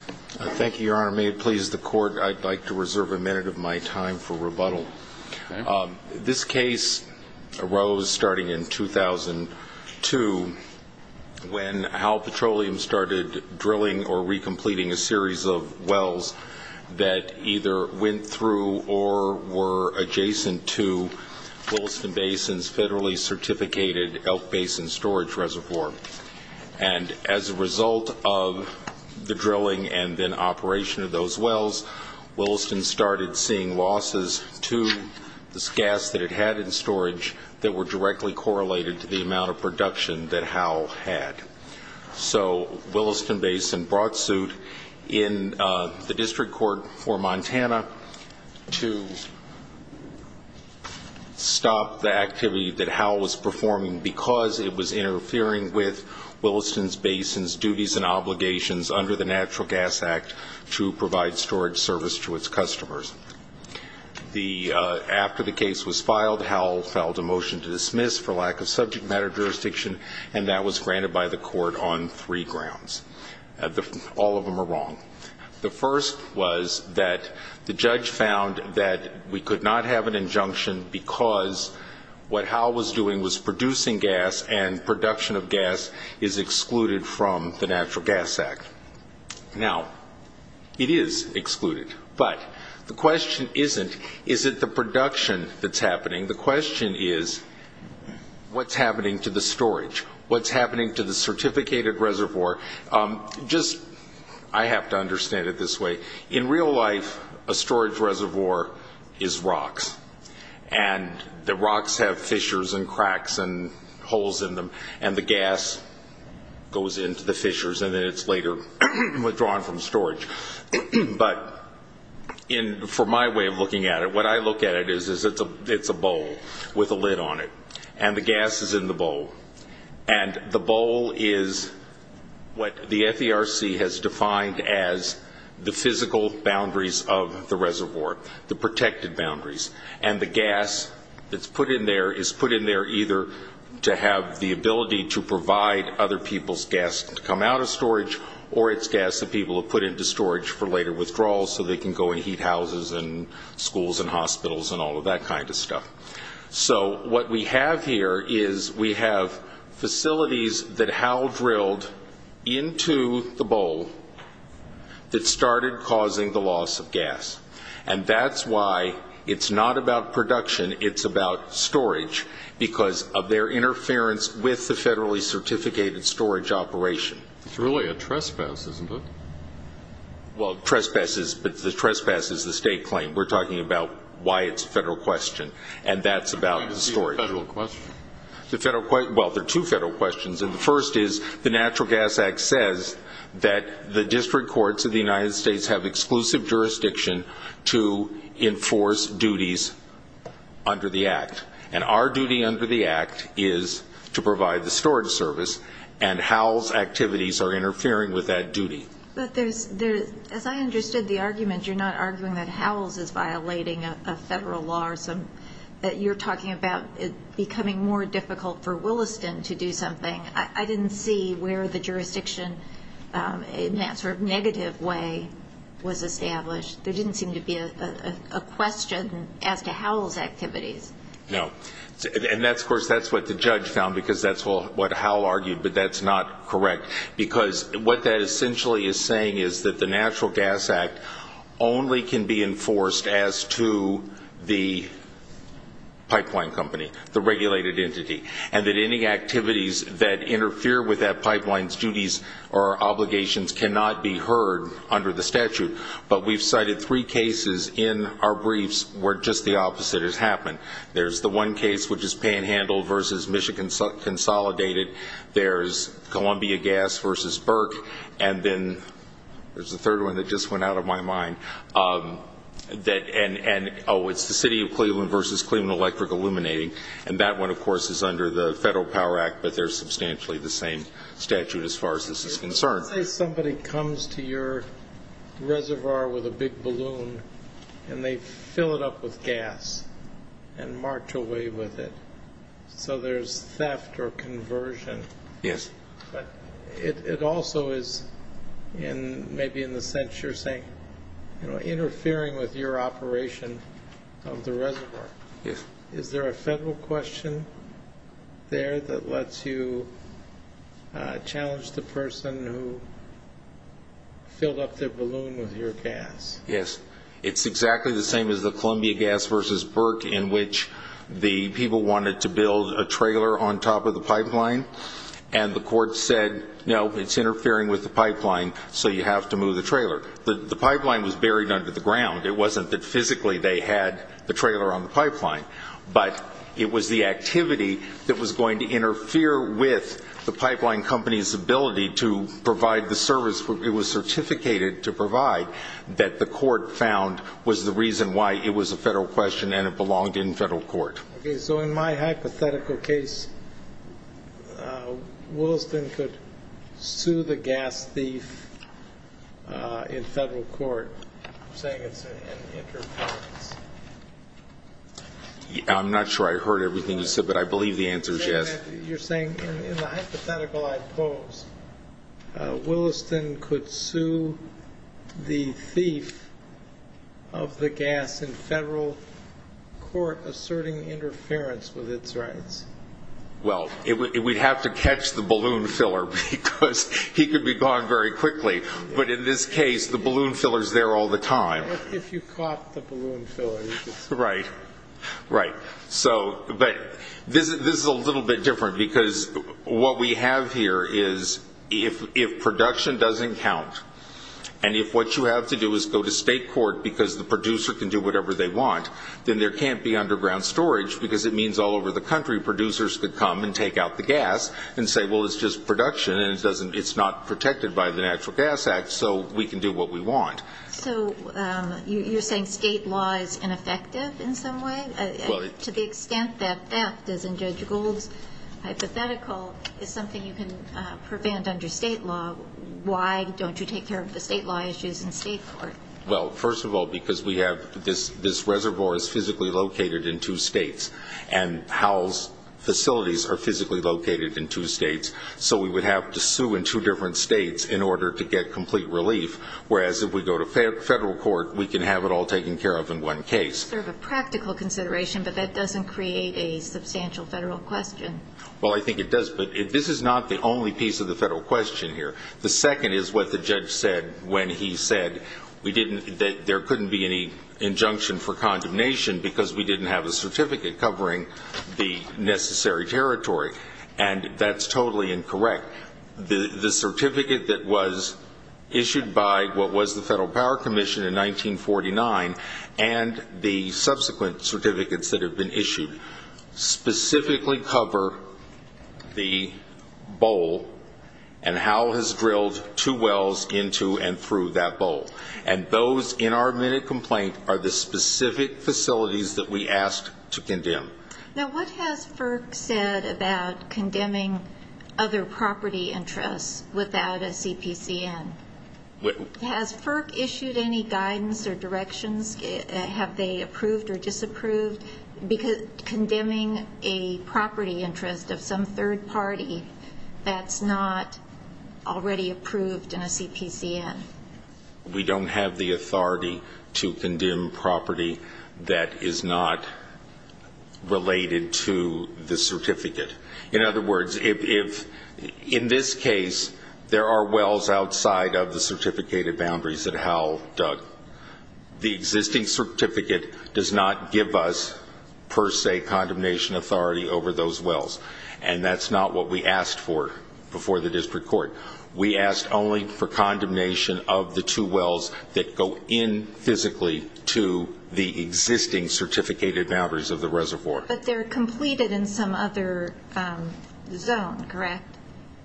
Thank you your honor may it please the court I'd like to reserve a minute of my time for rebuttal. This case arose starting in 2002 when Howell Petroleum started drilling or recompleting a series of wells that either went through or were adjacent to Williston Basin's federally certificated Elk Basin storage reservoir and as a result of the drilling and then operation of those wells Williston started seeing losses to this gas that it had in storage that were directly correlated to the amount of production that Howell had. So Williston Basin brought suit in the district court for Montana to stop the with Williston's Basin's duties and obligations under the Natural Gas Act to provide storage service to its customers. After the case was filed Howell filed a motion to dismiss for lack of subject matter jurisdiction and that was granted by the court on three grounds. All of them are wrong. The first was that the judge found that we could not have an injunction because what Howell was doing was producing gas and production of gas is excluded from the Natural Gas Act. Now it is excluded but the question isn't is it the production that's happening? The question is what's happening to the storage? What's happening to the certificated reservoir? Just I have to understand it this way. In real life a cracks and holes in them and the gas goes into the fissures and then it's later withdrawn from storage but in for my way of looking at it what I look at it is is it's a it's a bowl with a lid on it and the gas is in the bowl and the bowl is what the FDRC has defined as the physical boundaries of the reservoir the gas that's put in there is put in there either to have the ability to provide other people's gas to come out of storage or it's gas that people have put into storage for later withdrawal so they can go and heat houses and schools and hospitals and all of that kind of stuff. So what we have here is we have facilities that Howell drilled into the bowl that started causing the loss of production it's about storage because of their interference with the federally certificated storage operation. It's really a trespass isn't it? Well trespasses but the trespass is the state claim we're talking about why it's a federal question and that's about the storage. Is it a federal question? The federal question well there are two federal questions and the first is the Natural Gas Act says that the district courts of the United States have exclusive jurisdiction to enforce duties under the Act and our duty under the Act is to provide the storage service and Howell's activities are interfering with that duty. But there's there as I understood the argument you're not arguing that Howell's is violating a federal law or some that you're talking about it becoming more difficult for Williston to do something I didn't see where the didn't seem to be a question as to Howell's activities. No and that's of course that's what the judge found because that's what Howell argued but that's not correct because what that essentially is saying is that the Natural Gas Act only can be enforced as to the pipeline company the regulated entity and that any activities that interfere with that pipelines duties or cited three cases in our briefs where just the opposite has happened. There's the one case which is Panhandle versus Michigan Consolidated. There's Columbia Gas versus Burke and then there's a third one that just went out of my mind that and and oh it's the City of Cleveland versus Cleveland Electric Illuminating and that one of course is under the Federal Power Act but they're substantially the same statute as far as this is concerned. Let's say somebody comes to your reservoir with a big balloon and they fill it up with gas and march away with it so there's theft or conversion. Yes. But it also is in maybe in the sense you're saying you know interfering with your operation of the reservoir. Yes. Is there a federal question there that lets you challenge the person who filled up their balloon with your gas? Yes. It's exactly the same as the Columbia Gas versus Burke in which the people wanted to build a trailer on top of the pipeline and the court said no it's interfering with the pipeline so you have to move the trailer. The pipeline was buried under the ground. It wasn't that physically they had the trailer on the pipeline but it was the activity that was going to interfere with the pipeline company's ability to provide the service. It was certificated to provide that the court found was the reason why it was a federal question and it belonged in federal court. So in my hypothetical case, Williston could sue the gas thief in federal court saying it's an interference. I'm not sure I heard everything you said but I believe the answer is yes. You're saying in the hypothetical I pose, Williston could sue the thief of the gas in federal court asserting interference with its rights. Well, we'd have to catch the balloon filler because he could be gone very quickly but in this case if you caught the balloon filler you could sue him. Right, right. So but this is a little bit different because what we have here is if production doesn't count and if what you have to do is go to state court because the producer can do whatever they want then there can't be underground storage because it means all over the country producers could come and take out the gas and say well it's just production and it's not protected by the Natural Gas Act so we can do what we want. So you're saying state law is ineffective in some way to the extent that theft as in Judge Gold's hypothetical is something you can prevent under state law. Why don't you take care of the state law issues in state court? Well first of all because we have this this reservoir is physically located in two states and Howell's facilities are physically located in two states so we would have to sue in two different states in order to get complete relief whereas if we go to federal court we can have it all taken care of in one case. Sort of a practical consideration but that doesn't create a substantial federal question. Well I think it does but if this is not the only piece of the federal question here the second is what the judge said when he said we didn't that there couldn't be any injunction for condemnation because we didn't have a certificate covering the necessary territory and that's that was issued by what was the Federal Power Commission in 1949 and the subsequent certificates that have been issued specifically cover the bowl and Howell has drilled two wells into and through that bowl and those in our minute complaint are the specific facilities that we asked to condemn. Now what has FERC said about condemning other property interests without a CPCN? Has FERC issued any guidance or directions have they approved or disapproved because condemning a property interest of some third party that's not already approved in a CPCN? We don't have the authority to condemn property that is not related to the certificate. In other words if in this case there are wells outside of the certificated boundaries that Howell dug the existing certificate does not give us per se condemnation authority over those wells and that's not what we asked for before the district court. We asked only for condemnation of the two wells that go in physically to the existing certificated boundaries of the reservoir. But they're completed in some other zone correct?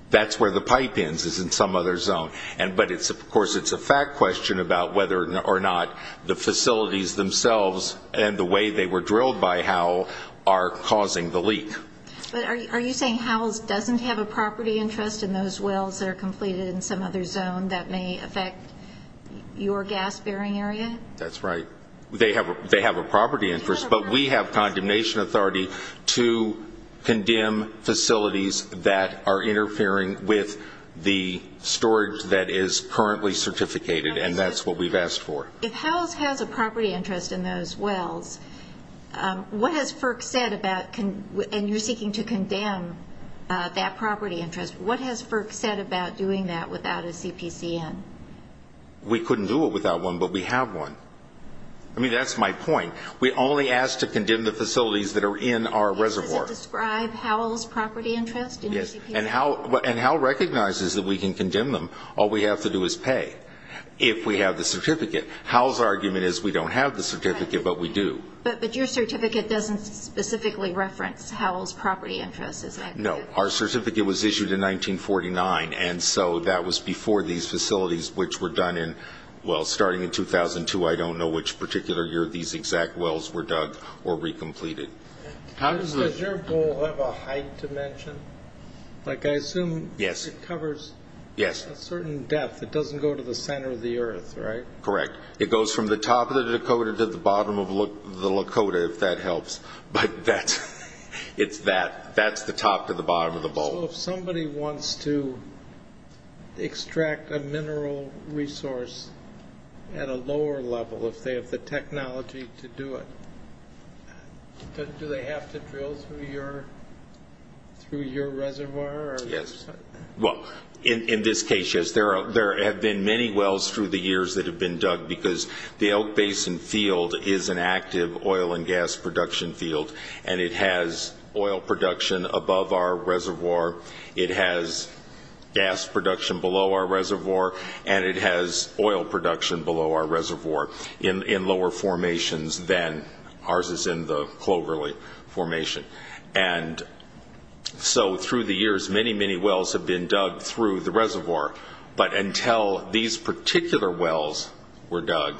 That's where the pipe ends is in some other zone and but it's of course it's a fact question about whether or not the facilities themselves and the way they were drilled by Howell are causing the leak. But are you saying Howell's doesn't have a property interest in those wells that are in some other zone that may affect your gas bearing area? That's right they have they have a property interest but we have condemnation authority to condemn facilities that are interfering with the storage that is currently certificated and that's what we've asked for. If Howell has a property interest in those wells what has FERC said about and you're seeking to condemn that property interest what has FERC said about doing that without a CPCN? We couldn't do it without one but we have one. I mean that's my point we only asked to condemn the facilities that are in our reservoir. Does it describe Howell's property interest? Yes and Howell recognizes that we can condemn them all we have to do is pay if we have the certificate. Howell's argument is we don't have the certificate but we do. But your certificate doesn't specifically reference Howell's property interest? No our certificate was issued in 1949 and so that was before these facilities which were done in well starting in 2002 I don't know which particular year these exact wells were dug or re-completed. Does your bowl have a height dimension? Like I assume it covers a certain depth it doesn't go to the center of the earth right? Correct it goes from the top of the Dakota to the bottom of the that's the top to the bottom of the bowl. So if somebody wants to extract a mineral resource at a lower level if they have the technology to do it do they have to drill through your through your reservoir? Yes well in this case yes there are there have been many wells through the years that have been dug because the Elk Basin field is an active oil and gas production field and it has oil production above our reservoir it has gas production below our reservoir and it has oil production below our reservoir in lower formations than ours is in the Cloverley formation and so through the years many many wells have been dug through the reservoir but until these particular wells were dug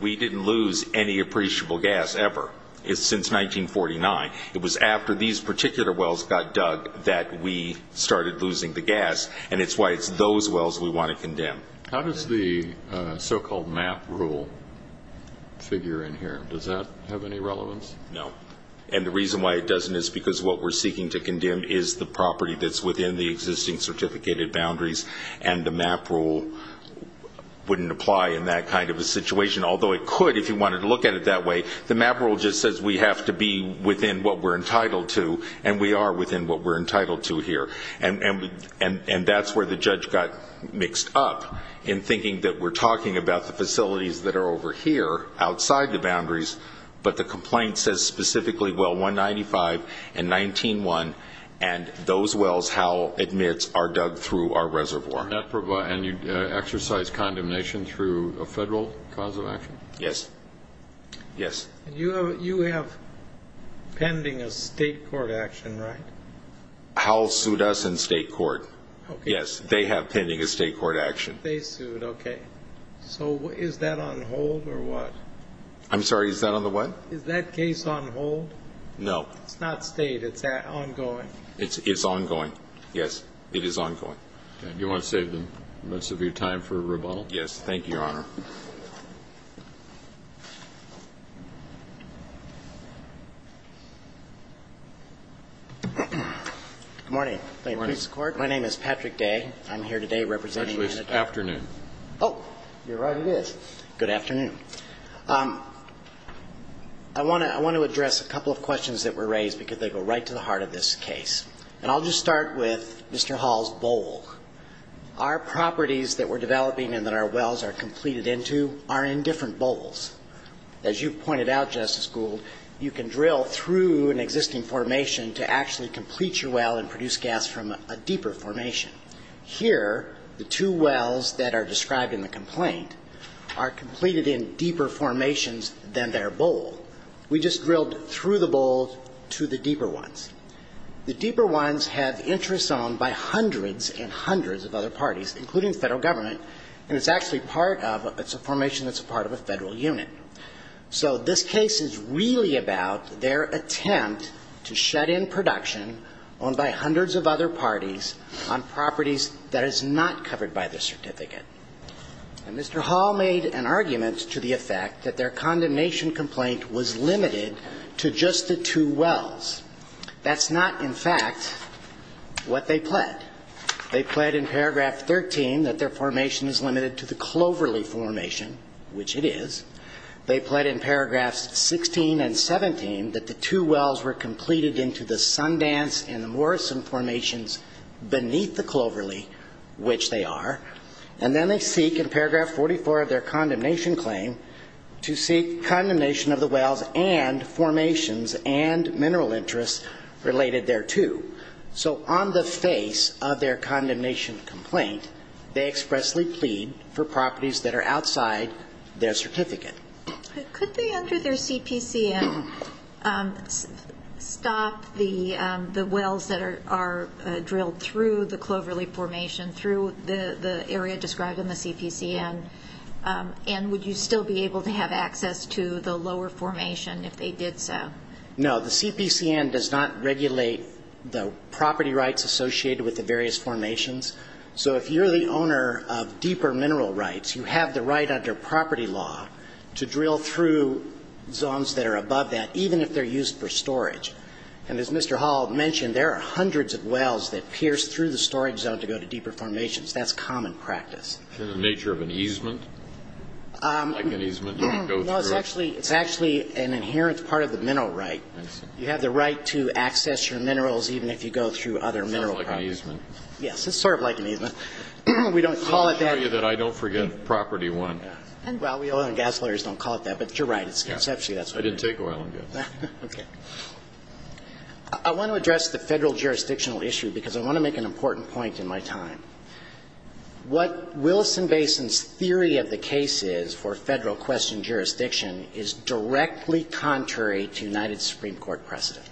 we didn't lose any appreciable gas ever it's since 1949 it was after these particular wells got dug that we started losing the gas and it's why it's those wells we want to condemn. How does the so-called map rule figure in here does that have any relevance? No and the reason why it doesn't is because what we're seeking to condemn is the property that's within the existing certificated boundaries and the map rule wouldn't apply in that kind of a if you wanted to look at it that way the map rule just says we have to be within what we're entitled to and we are within what we're entitled to here and and and and that's where the judge got mixed up in thinking that we're talking about the facilities that are over here outside the boundaries but the complaint says specifically well 195 and 19-1 and those wells how admits are dug through our reservoir. And you exercise condemnation through a federal cause of yes. You have pending a state court action right? Howell sued us in state court yes they have pending a state court action. They sued okay so is that on hold or what? I'm sorry is that on the what? Is that case on hold? No. It's not state it's ongoing. It's ongoing yes it is ongoing. You want to save the minutes of your time for rebuttal? Yes thank you your honor. Good morning. My name is Patrick Day. I'm here today representing. Actually it's afternoon. Oh you're right it is. Good afternoon. I want to I want to address a couple of questions that were raised because they go right to the heart of this case and I'll just start with Mr. Hall's bowl. Our properties that we're developing and that our wells are completed into are in different bowls. As you pointed out Justice Gould you can drill through an existing formation to actually complete your well and produce gas from a deeper formation. Here the two wells that are described in the complaint are completed in deeper formations than their bowl. We just drilled through the bowl to the deeper ones. The deeper ones have interests owned by hundreds and hundreds of other parties including the Federal Government and it's actually part of it's a formation that's a part of a Federal unit. So this case is really about their attempt to shut in production owned by hundreds of other parties on properties that is not covered by the certificate. And Mr. Hall made an argument to the effect that their condemnation complaint was limited to just the two wells. That's not in fact what they pled. They pled in paragraph 13 that their formation is limited to the Cloverley formation which it is. They pled in paragraphs 16 and 17 that the two wells were completed into the Sundance and the Morrison formations beneath the Cloverley which they are. And then they seek in their condemnation claim to seek condemnation of the wells and formations and mineral interests related thereto. So on the face of their condemnation complaint they expressly plead for properties that are outside their certificate. Could they under their CPCN stop the wells that are drilled through the Cloverley formation through the area described in the CPCN? And would you still be able to have access to the lower formation if they did so? No. The CPCN does not regulate the property rights associated with the various formations. So if you're the owner of deeper mineral rights you have the right under property law to drill through zones that are above that even if they're used for deeper formations. That's common practice. Is it the nature of an easement? Like an easement you can go through? No. It's actually an inherent part of the mineral right. You have the right to access your minerals even if you go through other mineral properties. It's sort of like an easement. Yes. It's sort of like an easement. We don't call it that. I'll show you that I don't forget property one. Well, we oil and gas lawyers don't call it that. But you're right. It's conceptually that's what it is. I didn't take oil and gas. Okay. I want to address the Federal jurisdictional issue because I want to make an important point in my time. What Willison-Basin's theory of the case is for Federal question jurisdiction is directly contrary to United Supreme Court precedent.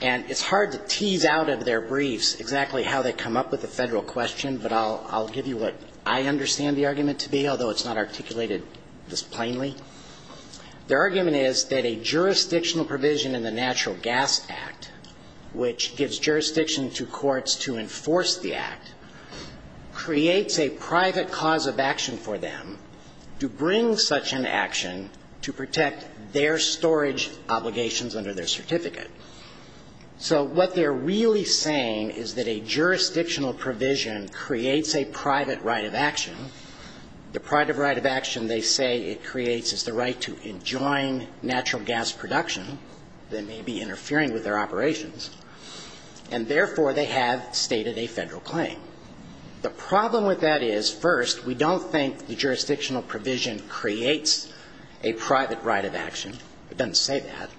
And it's hard to tease out of their briefs exactly how they come up with the Federal question, but I'll give you what I understand the argument to be, although it's not articulated this plainly. Their argument is that a jurisdictional provision in the Natural Gas Act, which gives jurisdiction to courts to enforce the Act, creates a private cause of action for them to bring such an action to protect their storage obligations under their certificate. So what they're really saying is that a jurisdictional provision creates a private right of action. The private right of action they say it creates is the right to enjoin natural gas production that may be interfering with their operations. And therefore, they have stated a Federal claim. The problem with that is, first, we don't think the jurisdictional provision creates a private right of action. It doesn't say that.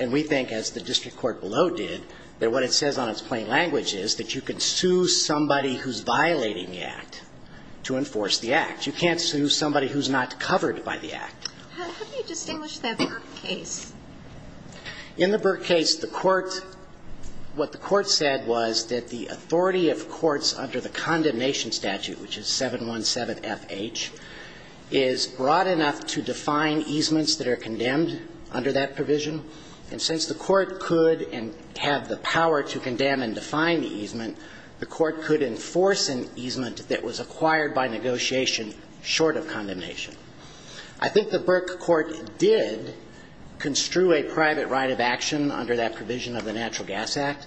And we think, as the district court below did, that what it says on its plain language is that you can sue somebody who's violating the Act to enforce the Act. You can't sue somebody who's not covered by the Act. How do you distinguish that Burke case? In the Burke case, the court, what the court said was that the authority of courts under the condemnation statute, which is 717FH, is broad enough to define easements that are condemned under that provision. And since the court could and have the power to condemn and define the easement, the court could enforce an easement that was acquired by negotiation short of condemnation. I think the Burke court did construe a private right of action under that provision of the Natural Gas Act,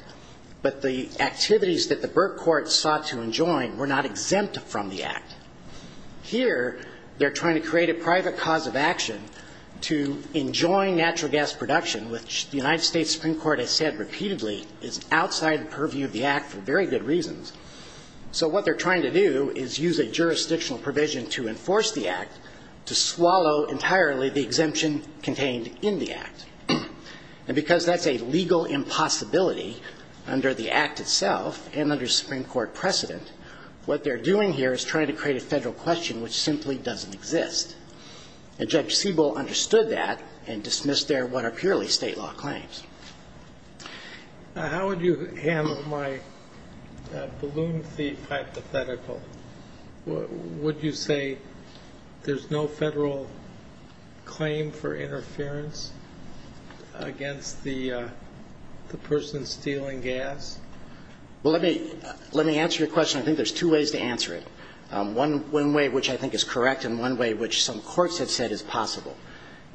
but the activities that the Burke court sought to enjoin were not exempt from the natural gas production, which the United States Supreme Court has said repeatedly is outside the purview of the Act for very good reasons. So what they're trying to do is use a jurisdictional provision to enforce the Act to swallow entirely the exemption contained in the Act. And because that's a legal impossibility under the Act itself and under Supreme Court precedent, what they're doing here is trying to create a Federal question which simply doesn't exist. And Judge Siebel understood that and dismissed there what are purely State law claims. How would you handle my balloon thief hypothetical? Would you say there's no Federal claim for interference against the person stealing gas? Well, let me answer your question. I think there's two ways to answer it, one way which I think is correct and one way which some courts have said is possible.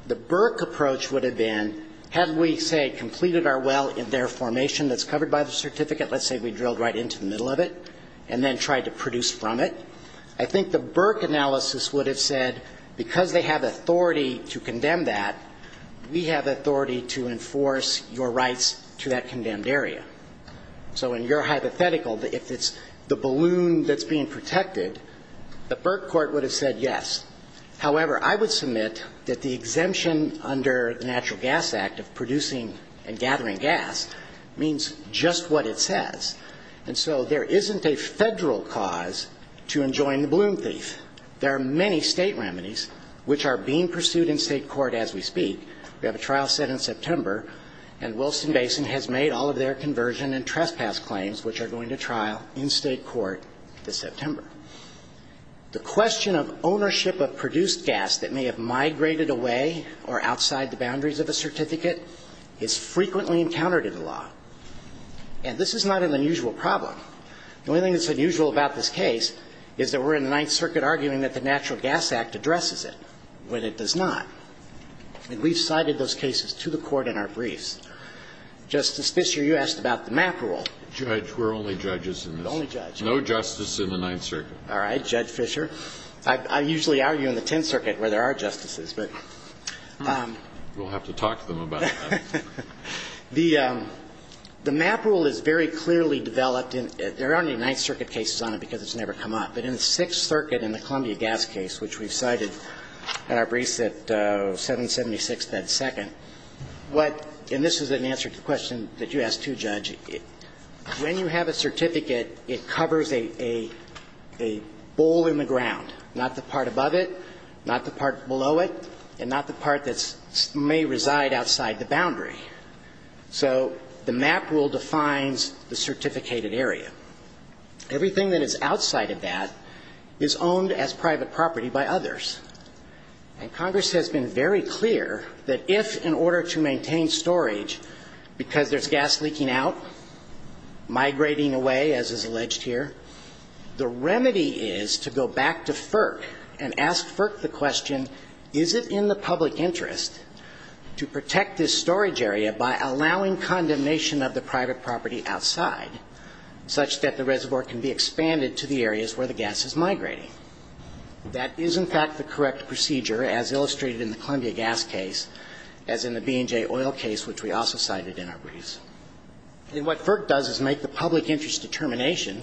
The Burke approach would have been, had we, say, completed our well in their formation that's covered by the certificate, let's say we drilled right into the middle of it and then tried to produce from it, I think the Burke analysis would have said because they have authority to condemn that, we have authority to enforce your rights to that condemned area. So in your hypothetical, if it's the balloon that's being protected, the Burke court would have said yes. However, I would submit that the exemption under the Natural Gas Act of producing and gathering gas means just what it says. And so there isn't a Federal cause to enjoin the balloon thief. There are many State remedies which are being pursued in State court as we speak. We have a trial set in September, and Wilson Basin has made all of their conversion and trespass claims which are going to trial in State court this September. The question of ownership of produced gas that may have migrated away or outside the boundaries of a certificate is frequently encountered in the law. And this is not an unusual problem. The only thing that's unusual about this case is that we're in the Ninth Circuit arguing that the Natural Gas Act addresses it when it does not. And we've cited those cases to the Court in our briefs. Justice Fischer, you asked about the MAP rule. We're only judges in this. Only judges. No justice in the Ninth Circuit. All right, Judge Fischer. I usually argue in the Tenth Circuit where there are justices, but we'll have to talk to them about that. The MAP rule is very clearly developed. There aren't any Ninth Circuit cases on it because it's never come up. But in the Sixth Circuit in the Columbia gas case, which we've cited in our briefs at 776 Bed Second, what – and this is an answer to the question that you asked, too, Judge – when you have a certificate, it covers a bowl in the ground, not the part above it, not the part below it, and not the part that may reside outside the boundary. So the MAP rule defines the certificated area. Everything that is outside of that is owned as private property by others. And Congress has been very clear that if, in order to maintain storage, because there's gas leaking out, migrating away, as is alleged here, the remedy is to go back to FERC and ask FERC the question, is it in the public interest to protect this storage area by allowing condemnation of the private property outside, such that the reservoir can be expanded to the areas where the gas is migrating? That is, in fact, the correct procedure, as illustrated in the Columbia gas case, as in the B&J oil case, which we also cited in our briefs. And what FERC does is make the public interest determination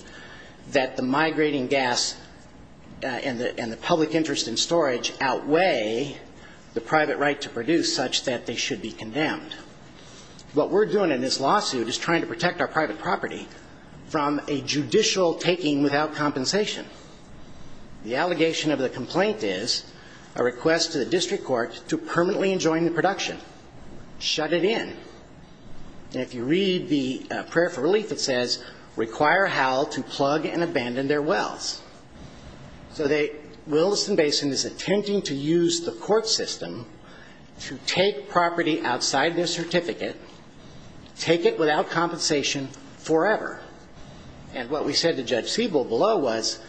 that the migrating gas and the public interest in storage outweigh the private right to produce, such that they should be condemned. What we're doing in this lawsuit is trying to protect our private property from a judicial taking without compensation. The allegation of the complaint is a request to the district court to permanently enjoin the production, shut it in. And if you read the prayer for relief, it says, require HAL to plug and abandon their wells. So the Williston Basin is attempting to use the court system to take property outside their certificate, take it without compensation forever. And what we said to Judge Siebel below was,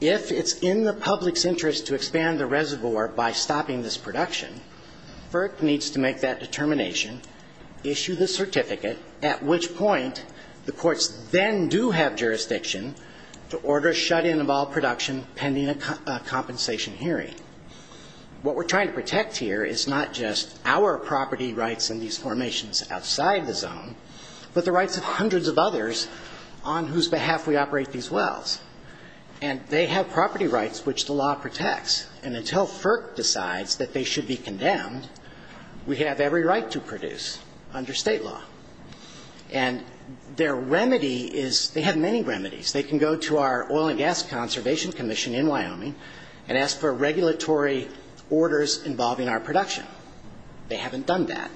if it's in the public's interest to expand the reservoir by stopping this production, FERC needs to make that determination, issue the certificate, at which point the courts then do have jurisdiction to order a shut-in of all production pending a compensation hearing. What we're trying to protect here is not just our property rights in these formations outside the zone, but the rights of hundreds of others on whose behalf we operate these wells. And they have property rights which the law protects. And until FERC decides that they should be condemned, we have every right to produce under state law. And their remedy is they have many remedies. They can go to our Oil and Gas Conservation Commission in Wyoming and ask for regulatory orders involving our production. They haven't done that.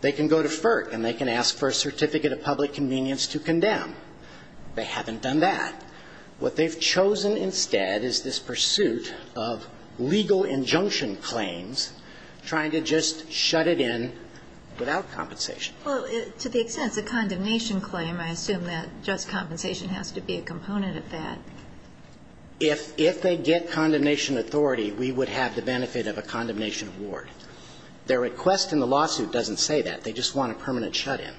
They can go to FERC and they can ask for a certificate of public convenience to condemn. They haven't done that. What they've chosen instead is this pursuit of legal Well, to the extent it's a condemnation claim, I assume that just compensation has to be a component of that. If they get condemnation authority, we would have the benefit of a condemnation award. Their request in the lawsuit doesn't say that. They just want a permanent shut-in.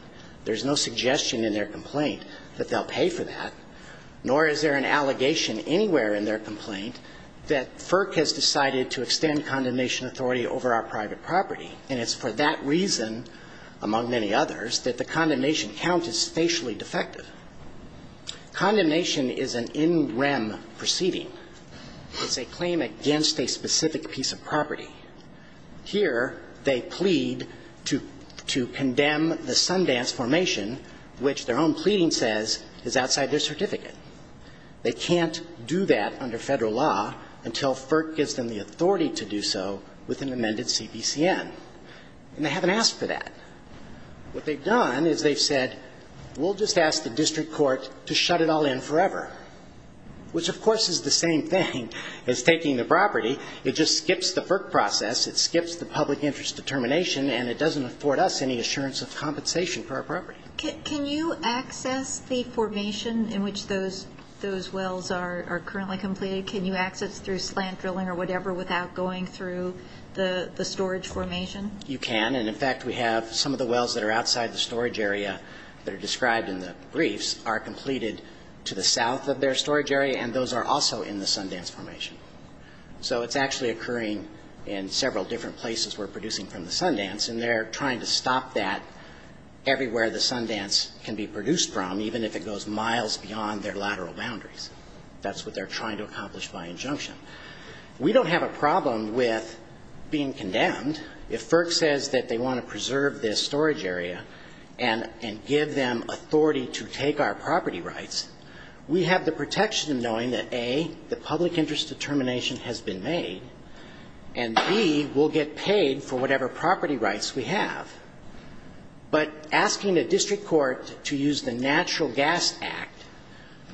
There's no suggestion in their complaint that they'll pay for that, nor is there an allegation anywhere in their complaint that FERC has decided to extend condemnation authority over our private property. And it's for that reason, among many others, that the condemnation count is spatially defective. Condemnation is an in-rem proceeding. It's a claim against a specific piece of property. Here, they plead to condemn the Sundance Formation, which their own pleading says is outside their certificate. They can't do that under Federal law until FERC gives them the authority to do so with an amended CBCN. And they haven't asked for that. What they've done is they've said, we'll just ask the district court to shut it all in forever, which, of course, is the same thing as taking the property. It just skips the FERC process. It skips the public interest determination, and it doesn't afford us any assurance of compensation for our property. Can you access the formation in which those wells are currently completed? Can you access through slant drilling or whatever without going through the storage formation? You can. And, in fact, we have some of the wells that are outside the storage area that are described in the briefs are completed to the south of their storage area, and those are also in the Sundance Formation. So it's actually occurring in several different places we're producing from the Sundance, and they're trying to stop that everywhere the Sundance can be produced from, even if it goes miles beyond their lateral boundaries. That's what they're trying to accomplish by injunction. We don't have a problem with being condemned. If FERC says that they want to preserve this storage area and give them authority to take our property rights, we have the protection in knowing that, A, the public interest determination has been made, and, B, we'll get paid for whatever property rights we have. But asking a district court to use the Natural Gas Act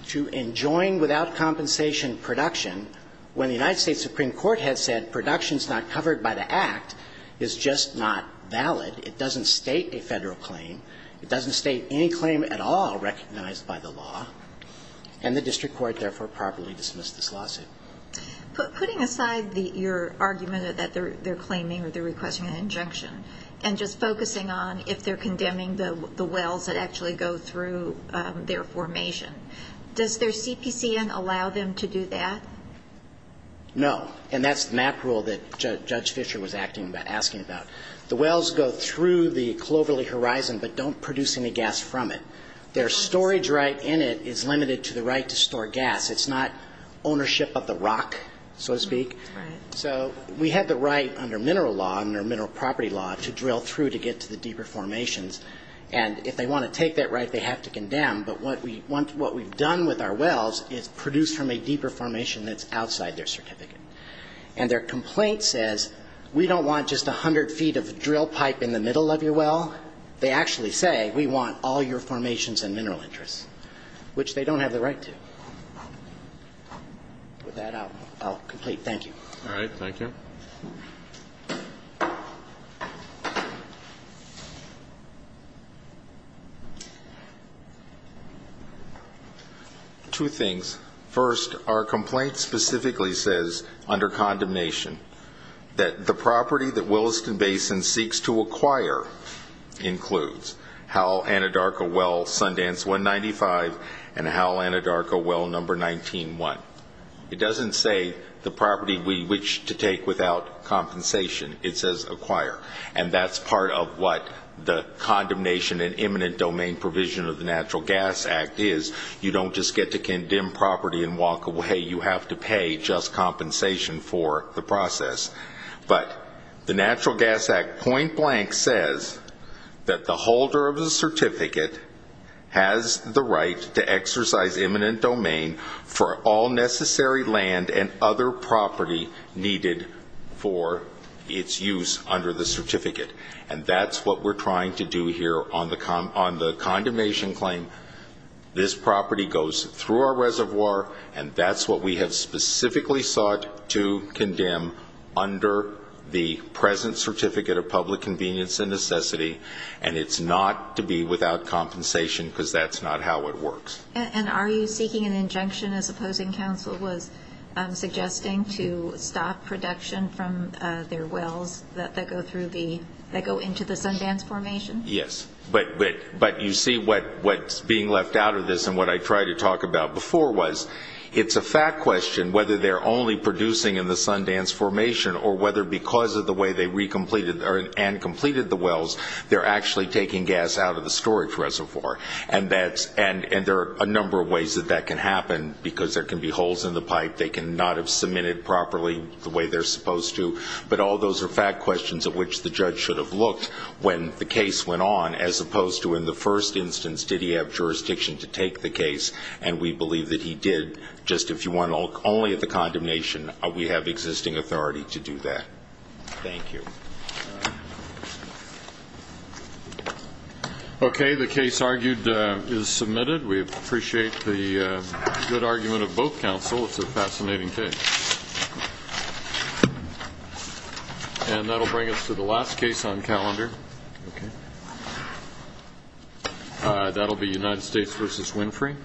to enjoin without compensation production, when the United States Supreme Court has said production is not covered by the Act, is just not valid. It doesn't state a Federal claim. It doesn't state any claim at all recognized by the law. And the district court, therefore, properly dismissed this lawsuit. Putting aside your argument that they're claiming or they're requesting an injunction and just focusing on if they're condemning the wells that actually go through their formation, does their CPCN allow them to do that? No. And that's the MAP rule that Judge Fischer was asking about. The wells go through the cloverleaf horizon but don't produce any gas from it. Their storage right in it is limited to the right to store gas. It's not ownership of the rock, so to speak. Right. So we have the right under mineral law, under mineral property law, to drill through to get to the deeper formations. And if they want to take that right, they have to condemn. But what we've done with our wells is produce from a deeper formation that's outside their certificate. And their complaint says, we don't want just a hundred feet of drill pipe in the middle of your well. They actually say, we want all your formations and mineral interests, which they don't have the right to. With that, I'll complete. Thank you. All right. Thank you. Two things. First, our complaint specifically says, under condemnation, that the property that Williston Basin seeks to acquire includes Howell Anadarko Well Sundance 195 and Howell Anadarko Well Number 19-1. It doesn't say the property we wish to take without compensation. It says acquire. And that's part of what the condemnation and eminent domain provision of the Natural Gas Act is. You don't just get to condemn property and walk away. You have to pay just compensation for the process. But the Natural Gas Act point blank says that the holder of the certificate has the right to exercise eminent domain for all necessary land and other property needed for its use under the certificate. And that's what we're trying to do here on the condemnation claim. This property goes through our reservoir. And that's what we have specifically sought to condemn under the present Certificate of Public Convenience and Necessity. And it's not to be without compensation because that's not how it works. And are you seeking an injunction, as opposing counsel was suggesting, to stop production from their wells that go into the Sundance Formation? Yes. But you see what's being left out of this and what I tried to talk about before was, it's a fact question whether they're only producing in the Sundance Formation or whether because of the way they re-completed and completed the wells, they're actually taking gas out of the storage reservoir. And there are a number of ways that that can happen because there can be holes in the pipe. They cannot have submitted properly the way they're supposed to. But all those are fact questions at which the judge should have looked when the case went on, as opposed to in the first instance, did he have jurisdiction to take the case? And we believe that he did. Just if you want only the condemnation, we have existing authority to do that. Thank you. Okay. The case argued is submitted. We appreciate the good argument of both counsel. It's a fascinating case. And that will bring us to the last case on calendar. Okay. That will be United States v. Winfrey.